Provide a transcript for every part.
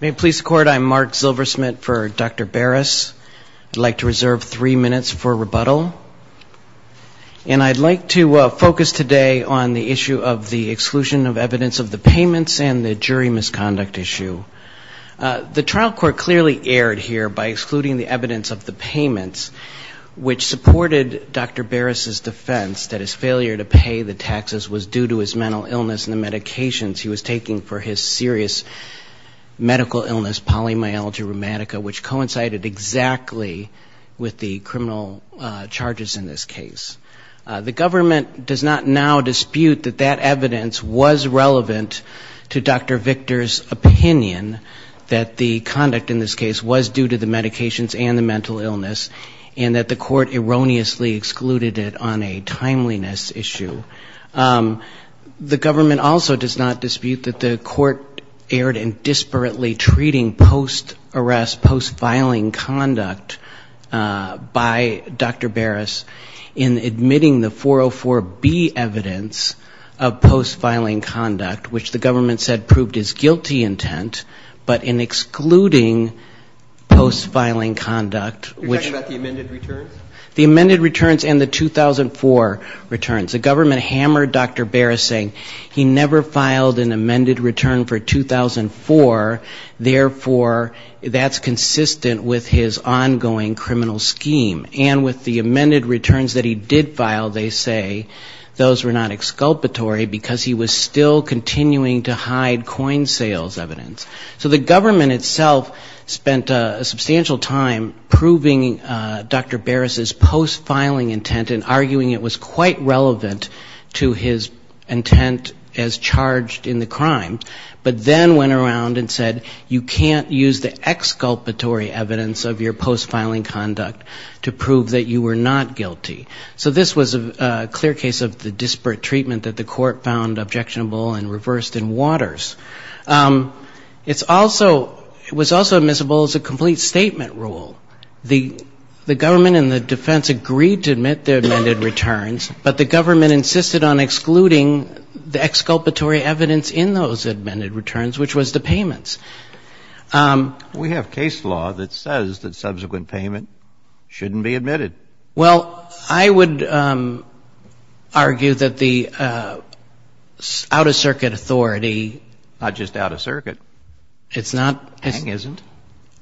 May it please the Court, I'm Mark Zilversmith for Dr. Baras. I'd like to reserve three minutes for rebuttal. And I'd like to focus today on the issue of the exclusion of evidence of the payments and the jury misconduct issue. The trial court clearly erred here by excluding the evidence of the payments, which supported Dr. Baras's defense that his failure to pay the taxes was due to his mental illness and the medications he was taking for his sickness. It was a serious medical illness, polymyalgia rheumatica, which coincided exactly with the criminal charges in this case. The government does not now dispute that that evidence was relevant to Dr. Victor's opinion that the conduct in this case was due to the medications and the mental illness, and that the court erroneously excluded it on a timeliness issue. The government also does not dispute that the court erred in disparately treating post-arrest, post-filing conduct by Dr. Baras in admitting the 404B evidence of post-filing conduct, which the government said proved his guilty intent, but in excluding post-filing conduct. You're talking about the amended returns? The amended returns and the 2004 returns. The government hammered Dr. Baras, saying he never filed an amended return for 2004, therefore that's consistent with his ongoing criminal scheme. And with the amended returns that he did file, they say those were not exculpatory, because he was still continuing to hide coin sales evidence. So the government itself spent a substantial time proving Dr. Baras's post-filing intent and arguing it was quite relevant to his intent as charged in the crime, but then went around and said, you can't use the exculpatory evidence of your post-filing conduct to prove that you were not guilty. So this was a clear case of the disparate treatment that the court found objectionable and reversed in waters. It was also admissible as a complete statement rule. The government and the defense agreed to admit the amended returns, but the government insisted on excluding the exculpatory evidence in those amended returns, which was the payments. We have case law that says that subsequent payment shouldn't be admitted. Well, I would argue that the out-of-circuit authority. Not just out-of-circuit. It's not. Pang isn't.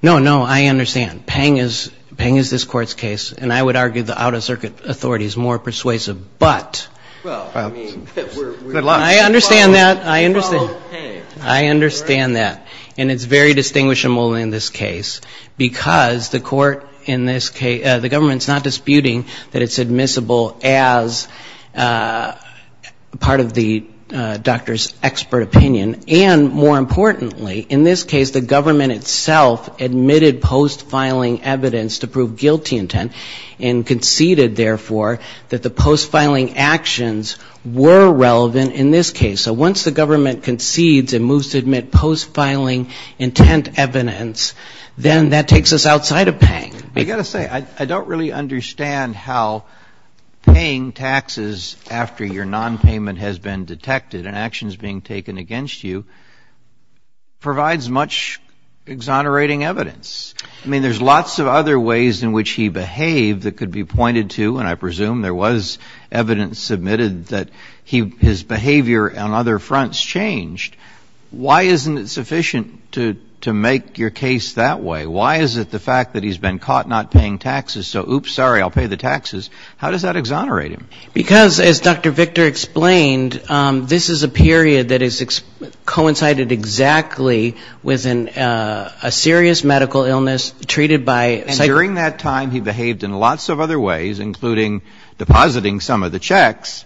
No, no. I understand. Pang is this Court's case. And I would argue the out-of-circuit authority is more persuasive, but I understand that. I understand. Follow Pang. I understand that. And it's very distinguishable in this case because the court in this case, the government is not disputing that it's admissible as part of the doctor's expert opinion. And more importantly, in this case, the government itself admitted post-filing evidence to prove guilty intent and conceded, therefore, that the post-filing actions were relevant in this case. So once the government concedes and moves to admit post-filing intent evidence, then that takes us outside of Pang. I've got to say, I don't really understand how paying taxes after your nonpayment has been detected and actions being taken against you provides much exonerating evidence. I mean, there's lots of other ways in which he behaved that could be pointed to. And I presume there was evidence submitted that his behavior on other fronts changed. Why isn't it sufficient to make your case that way? Why is it the fact that he's been caught not paying taxes? So, oops, sorry, I'll pay the taxes. How does that exonerate him? Because, as Dr. Victor explained, this is a period that has coincided exactly with a serious medical illness treated by psychiatrists. And during that time, he behaved in lots of other ways, including depositing some of the checks.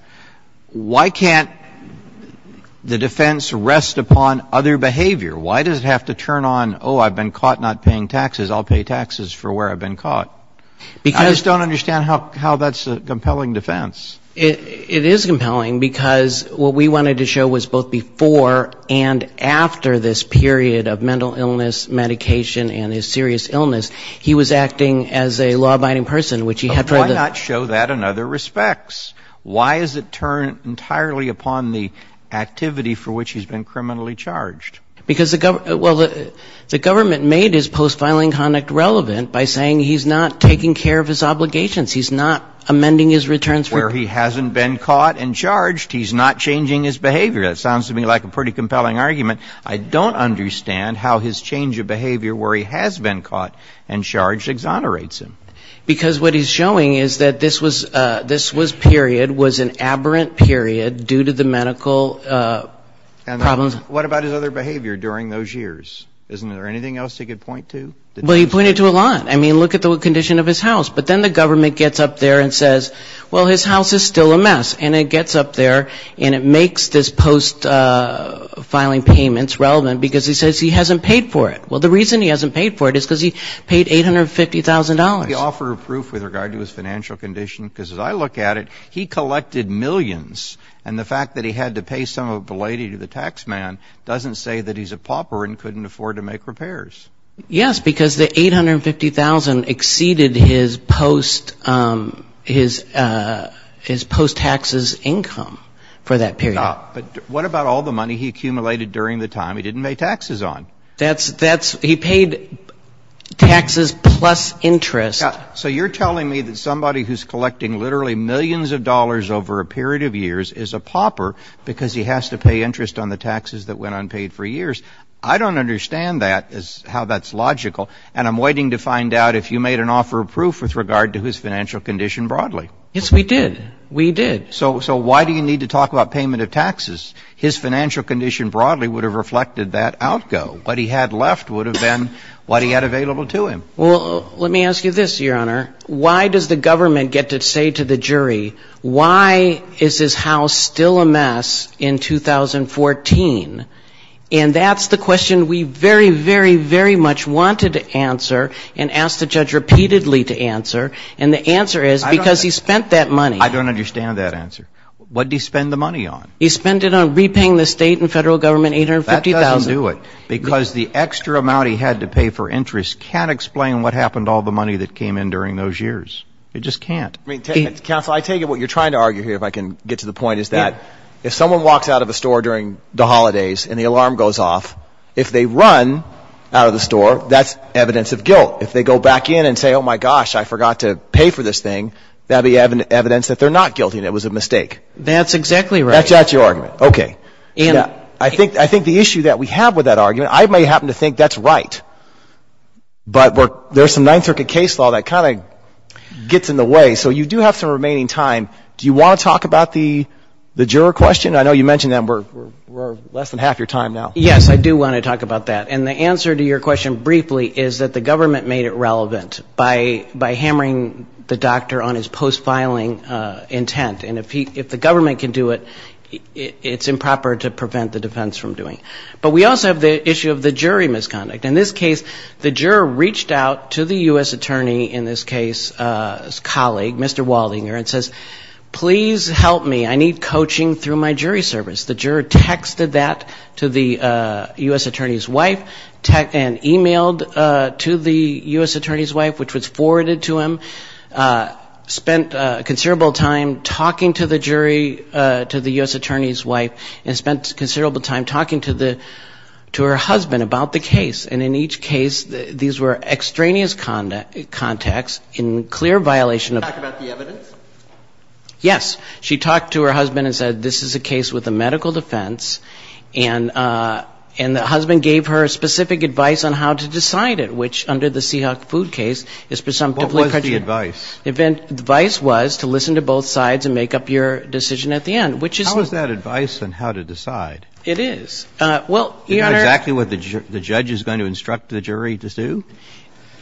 Why can't the defense rest upon other behavior? Why does it have to turn on, oh, I've been caught not paying taxes, I'll pay taxes for where I've been caught? I just don't understand how that's a compelling defense. It is compelling because what we wanted to show was both before and after this period of mental illness, medication, and his serious illness, he was acting as a law-abiding person, which he had tried to do. But why not show that in other respects? Why is it turned entirely upon the activity for which he's been criminally charged? Because the government made his post-filing conduct relevant by saying he's not taking care of his obligations, he's not amending his returns. Where he hasn't been caught and charged, he's not changing his behavior. That sounds to me like a pretty compelling argument. I don't understand how his change of behavior where he has been caught and charged exonerates him. Because what he's showing is that this was period, was an aberrant period due to the medical problems. And what about his other behavior during those years? Isn't there anything else he could point to? Well, he pointed to a lot. I mean, look at the condition of his house. But then the government gets up there and says, well, his house is still a mess. And it gets up there and it makes this post-filing payments relevant because he says he hasn't paid for it. Well, the reason he hasn't paid for it is because he paid $850,000. He offered proof with regard to his financial condition. Because as I look at it, he collected millions. And the fact that he had to pay some of it belatedly to the taxman doesn't say that he's a pauper and couldn't afford to make repairs. Yes, because the $850,000 exceeded his post-taxes income for that period. But what about all the money he accumulated during the time he didn't pay taxes on? That's he paid taxes plus interest. So you're telling me that somebody who's collecting literally millions of dollars over a period of years is a pauper because he has to pay interest on the taxes that went unpaid for years. I don't understand that, how that's logical. And I'm waiting to find out if you made an offer of proof with regard to his financial condition broadly. Yes, we did. We did. So why do you need to talk about payment of taxes? His financial condition broadly would have reflected that outgo. What he had left would have been what he had available to him. Well, let me ask you this, Your Honor. Why does the government get to say to the jury, why is his house still a mess in 2014? And that's the question we very, very, very much wanted to answer and asked the judge repeatedly to answer. And the answer is because he spent that money. I don't understand that answer. What did he spend the money on? He spent it on repaying the state and federal government $850,000. That doesn't do it. Because the extra amount he had to pay for interest can't explain what happened to all the money that came in during those years. It just can't. Counsel, I take it what you're trying to argue here, if I can get to the point, is that if someone walks out of a store during the holidays and the alarm goes off, if they run out of the store, that's evidence of guilt. If they go back in and say, oh, my gosh, I forgot to pay for this thing, that would be evidence that they're not guilty and it was a mistake. That's exactly right. That's your argument. Okay. I think the issue that we have with that argument, I may happen to think that's right. But there's some Ninth Circuit case law that kind of gets in the way. So you do have some remaining time. Do you want to talk about the juror question? I know you mentioned that. We're less than half your time now. Yes, I do want to talk about that. And the answer to your question briefly is that the government made it relevant by hammering the doctor on his post-filing intent. And if the government can do it, it's improper to prevent the defense from doing it. But we also have the issue of the jury misconduct. In this case, the juror reached out to the U.S. attorney, in this case his colleague, Mr. Waldinger, and says, please help me. I need coaching through my jury service. The juror texted that to the U.S. attorney's wife and emailed to the U.S. attorney's wife, which was forwarded to him, spent considerable time talking to the jury, to the U.S. attorney's wife, and spent considerable time talking to her husband about the case. And in each case, these were extraneous contacts in clear violation of the law. Can you talk about the evidence? Yes. She talked to her husband and said, this is a case with a medical defense, and the husband gave her specific advice on how to decide it, which, under the Seahawk Food case, is presumptively prejudicial. What was the advice? The advice was to listen to both sides and make up your decision at the end, which is not. How is that advice on how to decide? It is. Well, Your Honor. Is that exactly what the judge is going to instruct the jury to do?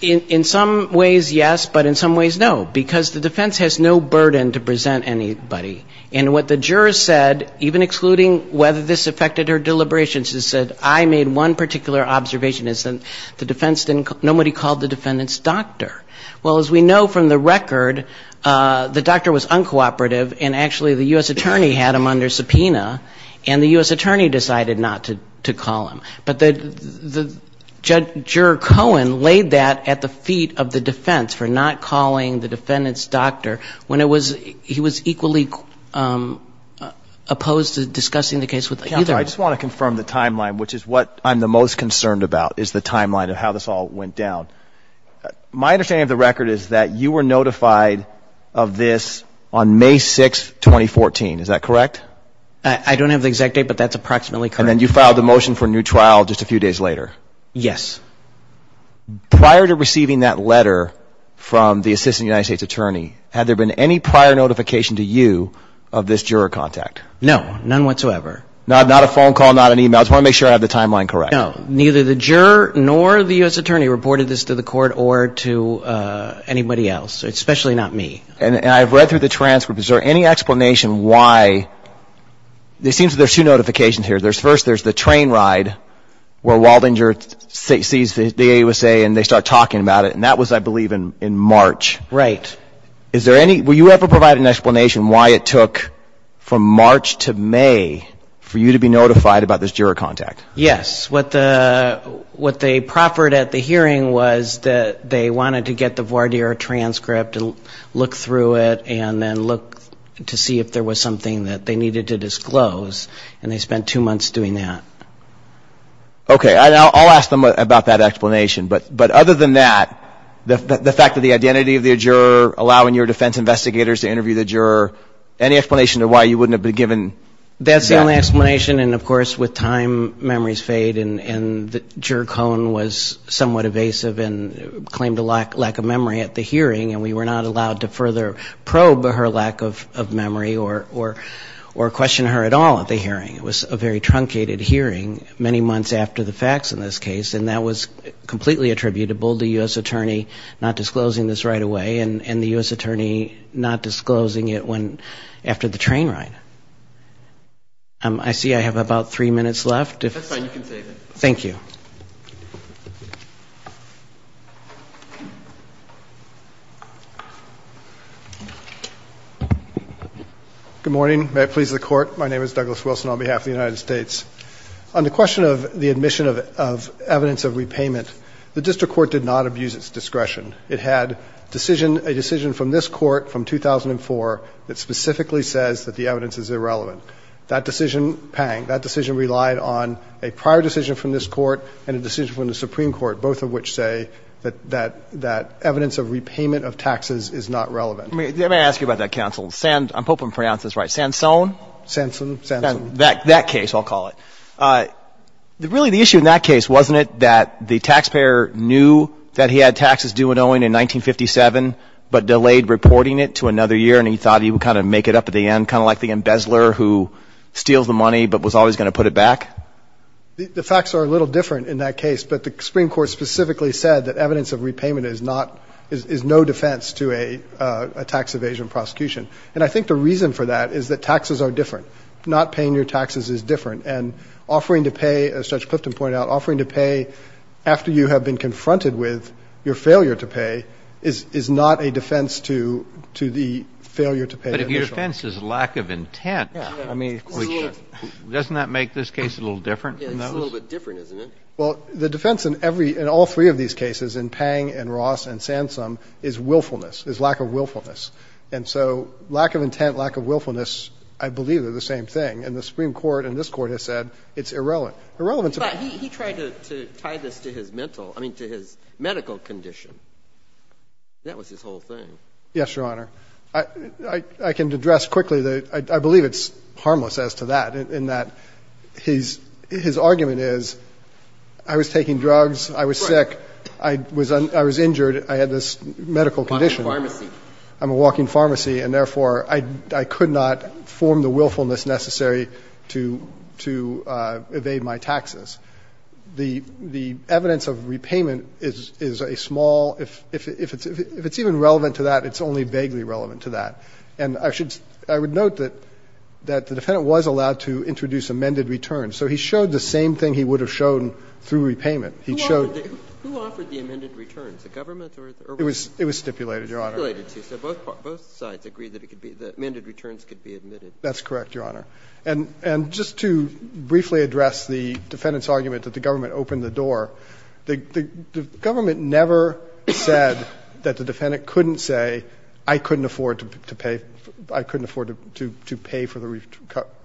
In some ways, yes, but in some ways, no. Because the defense has no burden to present anybody. And what the juror said, even excluding whether this affected her deliberations, she said, I made one particular observation. It's that the defense didn't call, nobody called the defendant's doctor. Well, as we know from the record, the doctor was uncooperative, and actually the U.S. attorney had him under subpoena, and the U.S. attorney decided not to call him. But the judge, Juror Cohen, laid that at the feet of the defense for not calling the defendant's doctor when he was equally opposed to discussing the case with either of them. Counsel, I just want to confirm the timeline, which is what I'm the most concerned about, is the timeline of how this all went down. My understanding of the record is that you were notified of this on May 6, 2014. Is that correct? I don't have the exact date, but that's approximately correct. And then you filed the motion for a new trial just a few days later. Yes. Prior to receiving that letter from the assistant United States attorney, had there been any prior notification to you of this juror contact? No, none whatsoever. Not a phone call, not an e-mail? I just want to make sure I have the timeline correct. No, neither the juror nor the U.S. attorney reported this to the court or to anybody else, especially not me. And I've read through the transcript. Is there any explanation why? It seems there's two notifications here. First, there's the train ride where Waldinger sees the AUSA and they start talking about it. And that was, I believe, in March. Right. Were you ever provided an explanation why it took from March to May for you to be notified about this juror contact? Yes. What they proffered at the hearing was that they wanted to get the voir dire transcript and look through it and then look to see if there was something that they needed to disclose. And they spent two months doing that. Okay. I'll ask them about that explanation. But other than that, the fact that the identity of the juror, allowing your defense investigators to interview the juror, any explanation to why you wouldn't have been given that? That's the only explanation. And, of course, with time, memories fade. And Juror Cohen was somewhat evasive and claimed a lack of memory at the hearing. And we were not allowed to further probe her lack of memory or question her at all at the hearing. It was a very truncated hearing many months after the facts in this case. And that was completely attributable to the U.S. attorney not disclosing this right away and the U.S. attorney not disclosing it after the train ride. I see I have about three minutes left. That's fine. You can save it. Thank you. Good morning. May it please the Court. My name is Douglas Wilson on behalf of the United States. On the question of the admission of evidence of repayment, the district court did not abuse its discretion. It had a decision from this Court from 2004 that specifically says that the evidence is irrelevant. That decision, pang, that decision relied on a prior decision from this Court and a decision from the Supreme Court, both of which say that that evidence of repayment of taxes is not relevant. Let me ask you about that, counsel. I hope I'm pronouncing this right. Sansone? Sansone, Sansone. That case, I'll call it. Really, the issue in that case, wasn't it, that the taxpayer knew that he had taxes due and owing in 1957, but delayed reporting it to another year and he thought he would kind of make it up at the end, kind of like the embezzler who steals the money but was always going to put it back? The facts are a little different in that case, but the Supreme Court specifically said that evidence of repayment is not, is no defense to a tax evasion prosecution. And I think the reason for that is that taxes are different. Not paying your taxes is different. And offering to pay, as Judge Clifton pointed out, offering to pay after you have been confronted with your failure to pay is not a defense to the failure to pay. But if your defense is lack of intent, doesn't that make this case a little different from those? It's a little bit different, isn't it? Well, the defense in every, in all three of these cases, in Pang and Ross and Sansone, is willfulness, is lack of willfulness. And so lack of intent, lack of willfulness, I believe, are the same thing. And the Supreme Court and this Court have said it's irrelevant. Irrelevant to me. But he tried to tie this to his mental, I mean, to his medical condition. That was his whole thing. Yes, Your Honor. I can address quickly. I believe it's harmless as to that, in that his argument is I was taking drugs, I was sick, I was injured, I had this medical condition. I'm a walking pharmacy. I'm a walking pharmacy, and therefore, I could not form the willfulness necessary to evade my taxes. The evidence of repayment is a small, if it's even relevant to that, it's only vaguely relevant to that. And I should, I would note that the defendant was allowed to introduce amended returns. So he showed the same thing he would have shown through repayment. He showed. Who offered the amended returns? The government or? It was stipulated, Your Honor. Stipulated, too. So both sides agreed that it could be, the amended returns could be admitted. That's correct, Your Honor. And just to briefly address the defendant's argument that the government opened the door, the government never said that the defendant couldn't say I couldn't afford to pay, I couldn't afford to pay for the,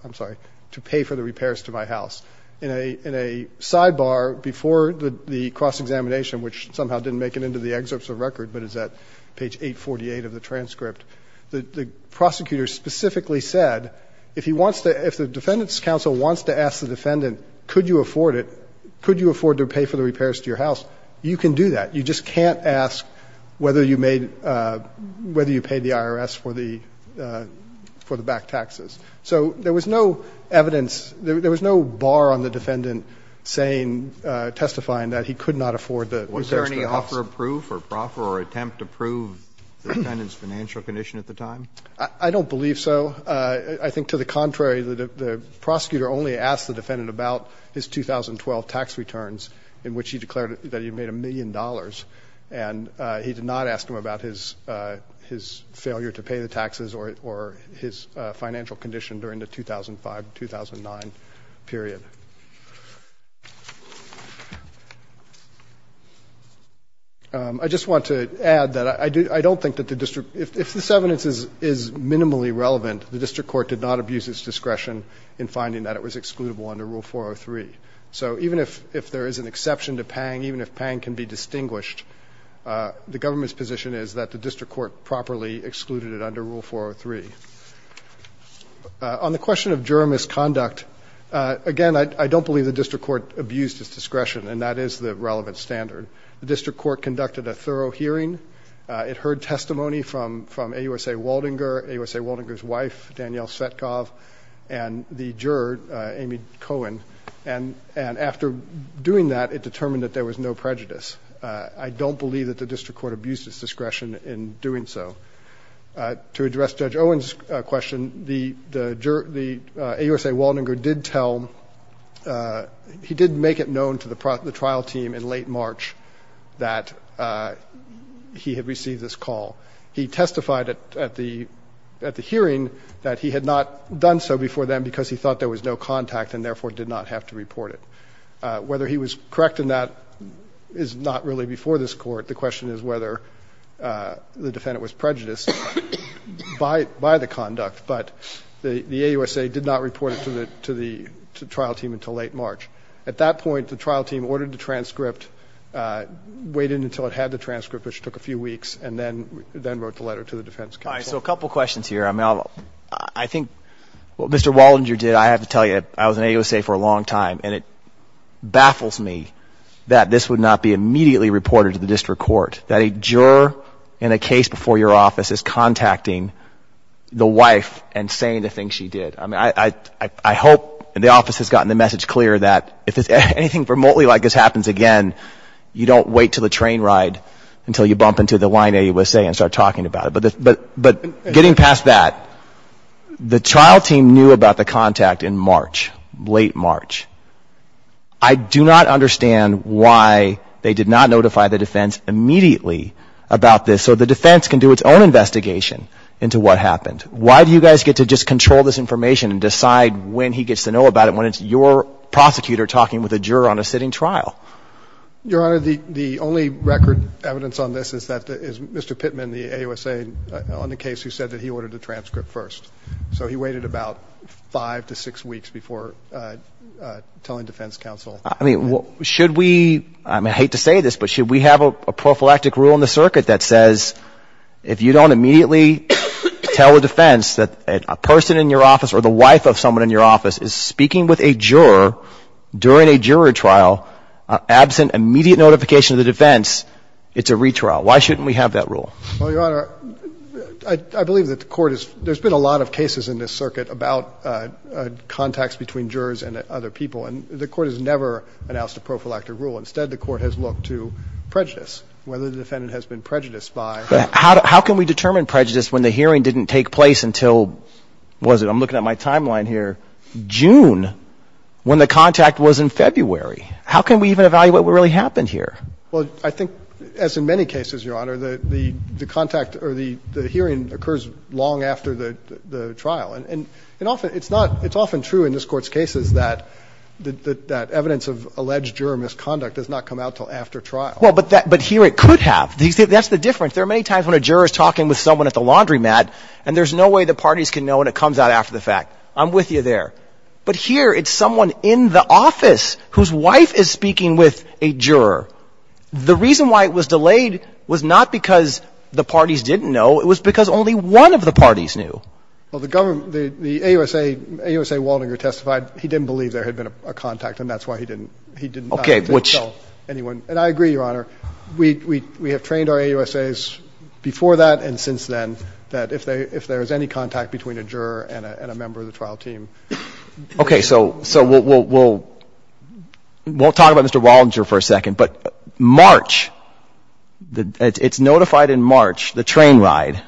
I'm sorry, to pay for the repairs to my house. In a sidebar before the cross-examination, which somehow didn't make it into the excerpts of the record, but it's at page 848 of the transcript, the prosecutor specifically said if he wants to, if the defendant's counsel wants to ask the defendant, could you afford it, could you afford to pay for the repairs to your house, you can do that. You just can't ask whether you made, whether you paid the IRS for the back taxes. So there was no evidence, there was no bar on the defendant saying, testifying that he could not afford the repairs to the house. Was there any offer of proof or proffer or attempt to prove the defendant's financial condition at the time? I don't believe so. I think, to the contrary, the prosecutor only asked the defendant about his 2012 tax returns in which he declared that he made a million dollars, and he did not ask him about his failure to pay the taxes or his financial condition during the 2005 to 2009 period. I just want to add that I don't think that the district, if this evidence is minimally relevant, the district court did not abuse its discretion in finding that it was excludable under Rule 403. So even if there is an exception to Pang, even if Pang can be distinguished, the government's position is that the district court properly excluded it under Rule 403. On the question of juror misconduct, again, I don't believe the district court abused its discretion, and that is the relevant standard. The district court conducted a thorough hearing. It heard testimony from AUSA Waldinger, AUSA Waldinger's wife, Danielle Svetkov, and the juror, Amy Cohen. And after doing that, it determined that there was no prejudice. I don't believe that the district court abused its discretion in doing so. To address Judge Owen's question, the juror, the AUSA Waldinger did tell, he did make it known to the trial team in late March that he had received this call. He testified at the hearing that he had not done so before then because he thought there was no contact and therefore did not have to report it. Whether he was correct in that is not really before this Court. The question is whether the defendant was prejudiced by the conduct, but the AUSA did not report it to the trial team until late March. At that point, the trial team ordered the transcript, waited until it had the transcript, which took a few weeks, and then wrote the letter to the defense counsel. All right. So a couple questions here. I mean, I think what Mr. Waldinger did, I have to tell you, I was in AUSA for a long time, and it baffles me that this would not be immediately reported to the district court, that a juror in a case before your office is contacting the wife and saying the things she did. I mean, I hope the office has gotten the message clear that if anything remotely like this happens again, you don't wait until the train ride until you bump into the line at AUSA and start talking about it. But getting past that, the trial team knew about the contact in March, late March. I do not understand why they did not notify the defense immediately about this so the defense can do its own investigation into what happened. Why do you guys get to just control this information and decide when he gets to know about it when it's your prosecutor talking with a juror on a sitting trial? Your Honor, the only record evidence on this is that Mr. Pittman, the AUSA on the case who said that he ordered the transcript first. So he waited about five to six weeks before telling defense counsel. I mean, should we, I hate to say this, but should we have a prophylactic rule in the circuit that says if you don't immediately tell the defense that a person in your office or the wife of someone in your office is speaking with a juror during a jury trial, absent immediate notification of the defense, it's a retrial? Why shouldn't we have that rule? Well, Your Honor, I believe that the court has, there's been a lot of cases in this circuit about contacts between jurors and other people, and the court has never announced a prophylactic rule. Instead, the court has looked to prejudice, whether the defendant has been prejudiced by. How can we determine prejudice when the hearing didn't take place until, what is it, I'm looking at my timeline here, June, when the contact was in February? How can we even evaluate what really happened here? Well, I think as in many cases, Your Honor, the contact or the hearing occurs long after the trial. And often it's not, it's often true in this Court's cases that evidence of alleged juror misconduct does not come out until after trial. Well, but here it could have. That's the difference. There are many times when a juror is talking with someone at the laundromat and there's no way the parties can know and it comes out after the fact. I'm with you there. But here it's someone in the office whose wife is speaking with a juror. The reason why it was delayed was not because the parties didn't know. It was because only one of the parties knew. Well, the government, the AUSA, AUSA Waldinger testified he didn't believe there had been a contact, and that's why he didn't, he didn't tell anyone. And I agree, Your Honor. We have trained our AUSAs before that and since then that if there is any contact between a juror and a member of the trial team. Okay. So we'll talk about Mr. Waldinger for a second. But March, it's notified in March, the train ride.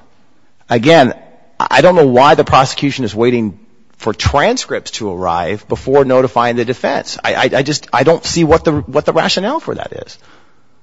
Again, I don't know why the prosecution is waiting for transcripts to arrive before notifying the defense. I just, I don't see what the rationale for that is.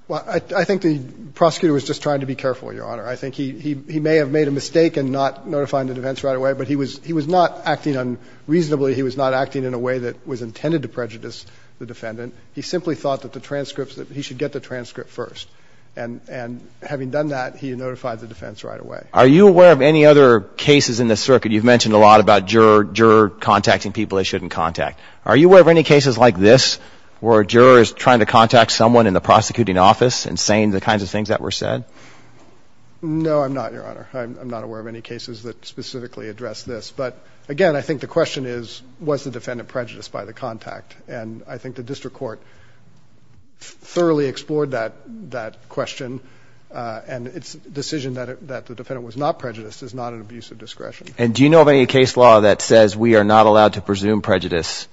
Well, I think the prosecutor was just trying to be careful, Your Honor. I think he may have made a mistake in not notifying the defense right away, but he was not acting unreasonably. He was not acting in a way that was intended to prejudice the defendant. He simply thought that the transcripts, that he should get the transcript first. And having done that, he notified the defense right away. Are you aware of any other cases in this circuit? You've mentioned a lot about juror, juror contacting people they shouldn't contact. Are you aware of any cases like this where a juror is trying to contact someone in the prosecuting office and saying the kinds of things that were said? No, I'm not, Your Honor. I'm not aware of any cases that specifically address this. But again, I think the question is, was the defendant prejudiced by the contact? And I think the district court thoroughly explored that question. And its decision that the defendant was not prejudiced is not an abuse of discretion. And do you know of any case law that says we are not allowed to presume prejudice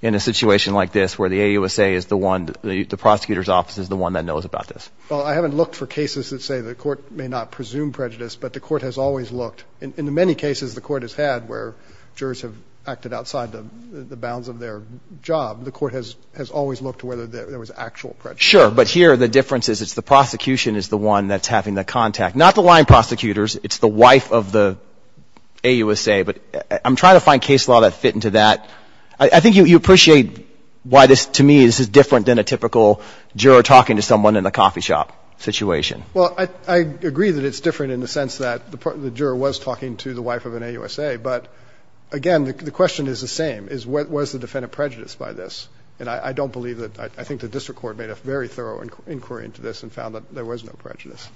in a situation like this where the AUSA is the one, the prosecutor's office is the one that knows about this? Well, I haven't looked for cases that say the court may not presume prejudice, but the court has always looked. In the many cases the court has had where jurors have acted outside the bounds of their job, the court has always looked whether there was actual prejudice. Sure. But here the difference is it's the prosecution is the one that's having the contact. Not the line prosecutors. It's the wife of the AUSA. But I'm trying to find case law that fit into that. I think you appreciate why this, to me, this is different than a typical juror talking to someone in a coffee shop situation. Well, I agree that it's different in the sense that the juror was talking to the wife of an AUSA. But, again, the question is the same, is was the defendant prejudiced by this? And I don't believe that, I think the district court made a very thorough inquiry into this and found that there was no prejudice.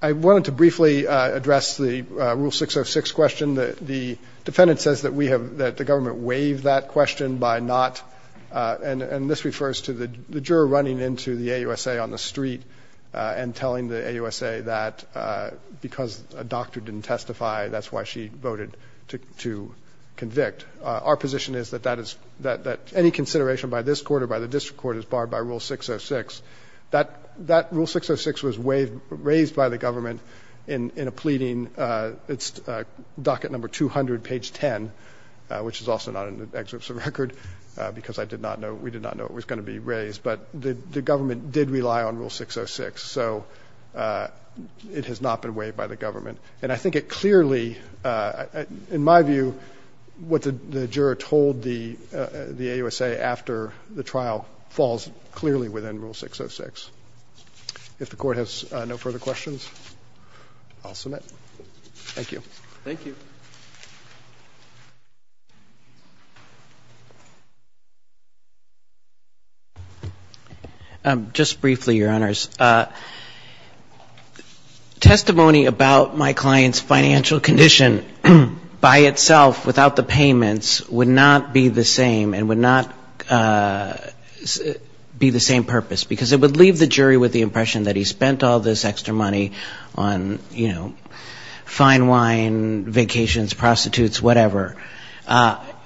I wanted to briefly address the Rule 606 question. The defendant says that we have, that the government waived that question by not, and this refers to the juror running into the AUSA on the street and telling the AUSA that because a doctor didn't testify, that's why she voted to convict. Our position is that that is, that any consideration by this court or by the district court is barred by Rule 606. That Rule 606 was raised by the government in a pleading. It's docket number 200, page 10, which is also not in the excerpts of the record because I did not know, we did not know it was going to be raised. But the government did rely on Rule 606. So it has not been waived by the government. And I think it clearly, in my view, what the juror told the AUSA after the trial falls clearly within Rule 606. If the Court has no further questions, I'll submit. Thank you. Thank you. Just briefly, Your Honors. Testimony about my client's financial condition by itself without the payments would not be the same and would not be the same purpose. Because it would leave the jury with the impression that he spent all this extra money on, you know, fine wine, vacations, prostitutes, whatever,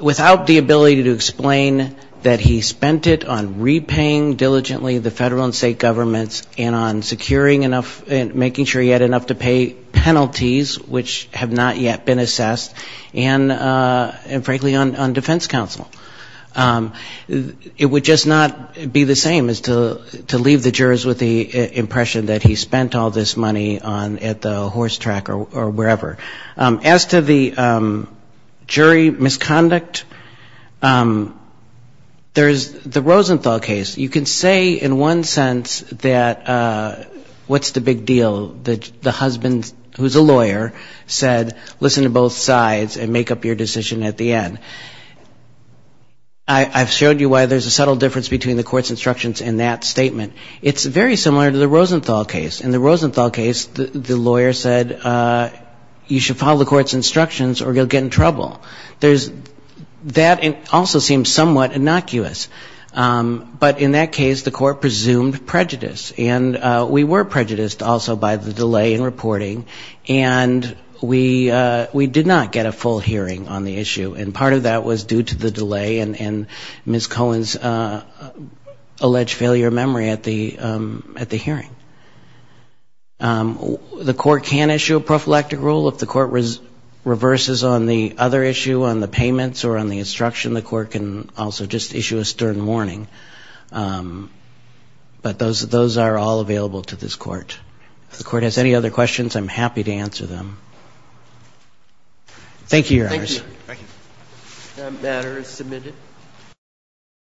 without the ability to explain that he spent it on repaying diligently the federal and state governments and on securing enough, making sure he had enough to pay penalties which have not yet been assessed, and frankly, on defense counsel. It would just not be the same as to leave the jurors with the impression that he spent all this money on at the horse track or wherever. As to the jury misconduct, there's the Rosenthal case. You can say in one sense that what's the big deal, the husband who's a lawyer said listen to both sides and make up your decision at the end. I've showed you why there's a subtle difference between the court's instructions and that statement. It's very similar to the Rosenthal case. In the Rosenthal case, the lawyer said you should follow the court's instructions or you'll get in trouble. That also seems somewhat innocuous. But in that case, the court presumed prejudice, and we were prejudiced also by the delay in reporting, and we did not get a full hearing on the issue, and part of that was due to the delay in Ms. Cohen's alleged failure of memory at the hearing. The court can issue a prophylactic rule. If the court reverses on the other issue, on the payments or on the instruction, the court can also just issue a stern warning. But those are all available to this court. If the court has any other questions, I'm happy to answer them. Thank you, Your Honors.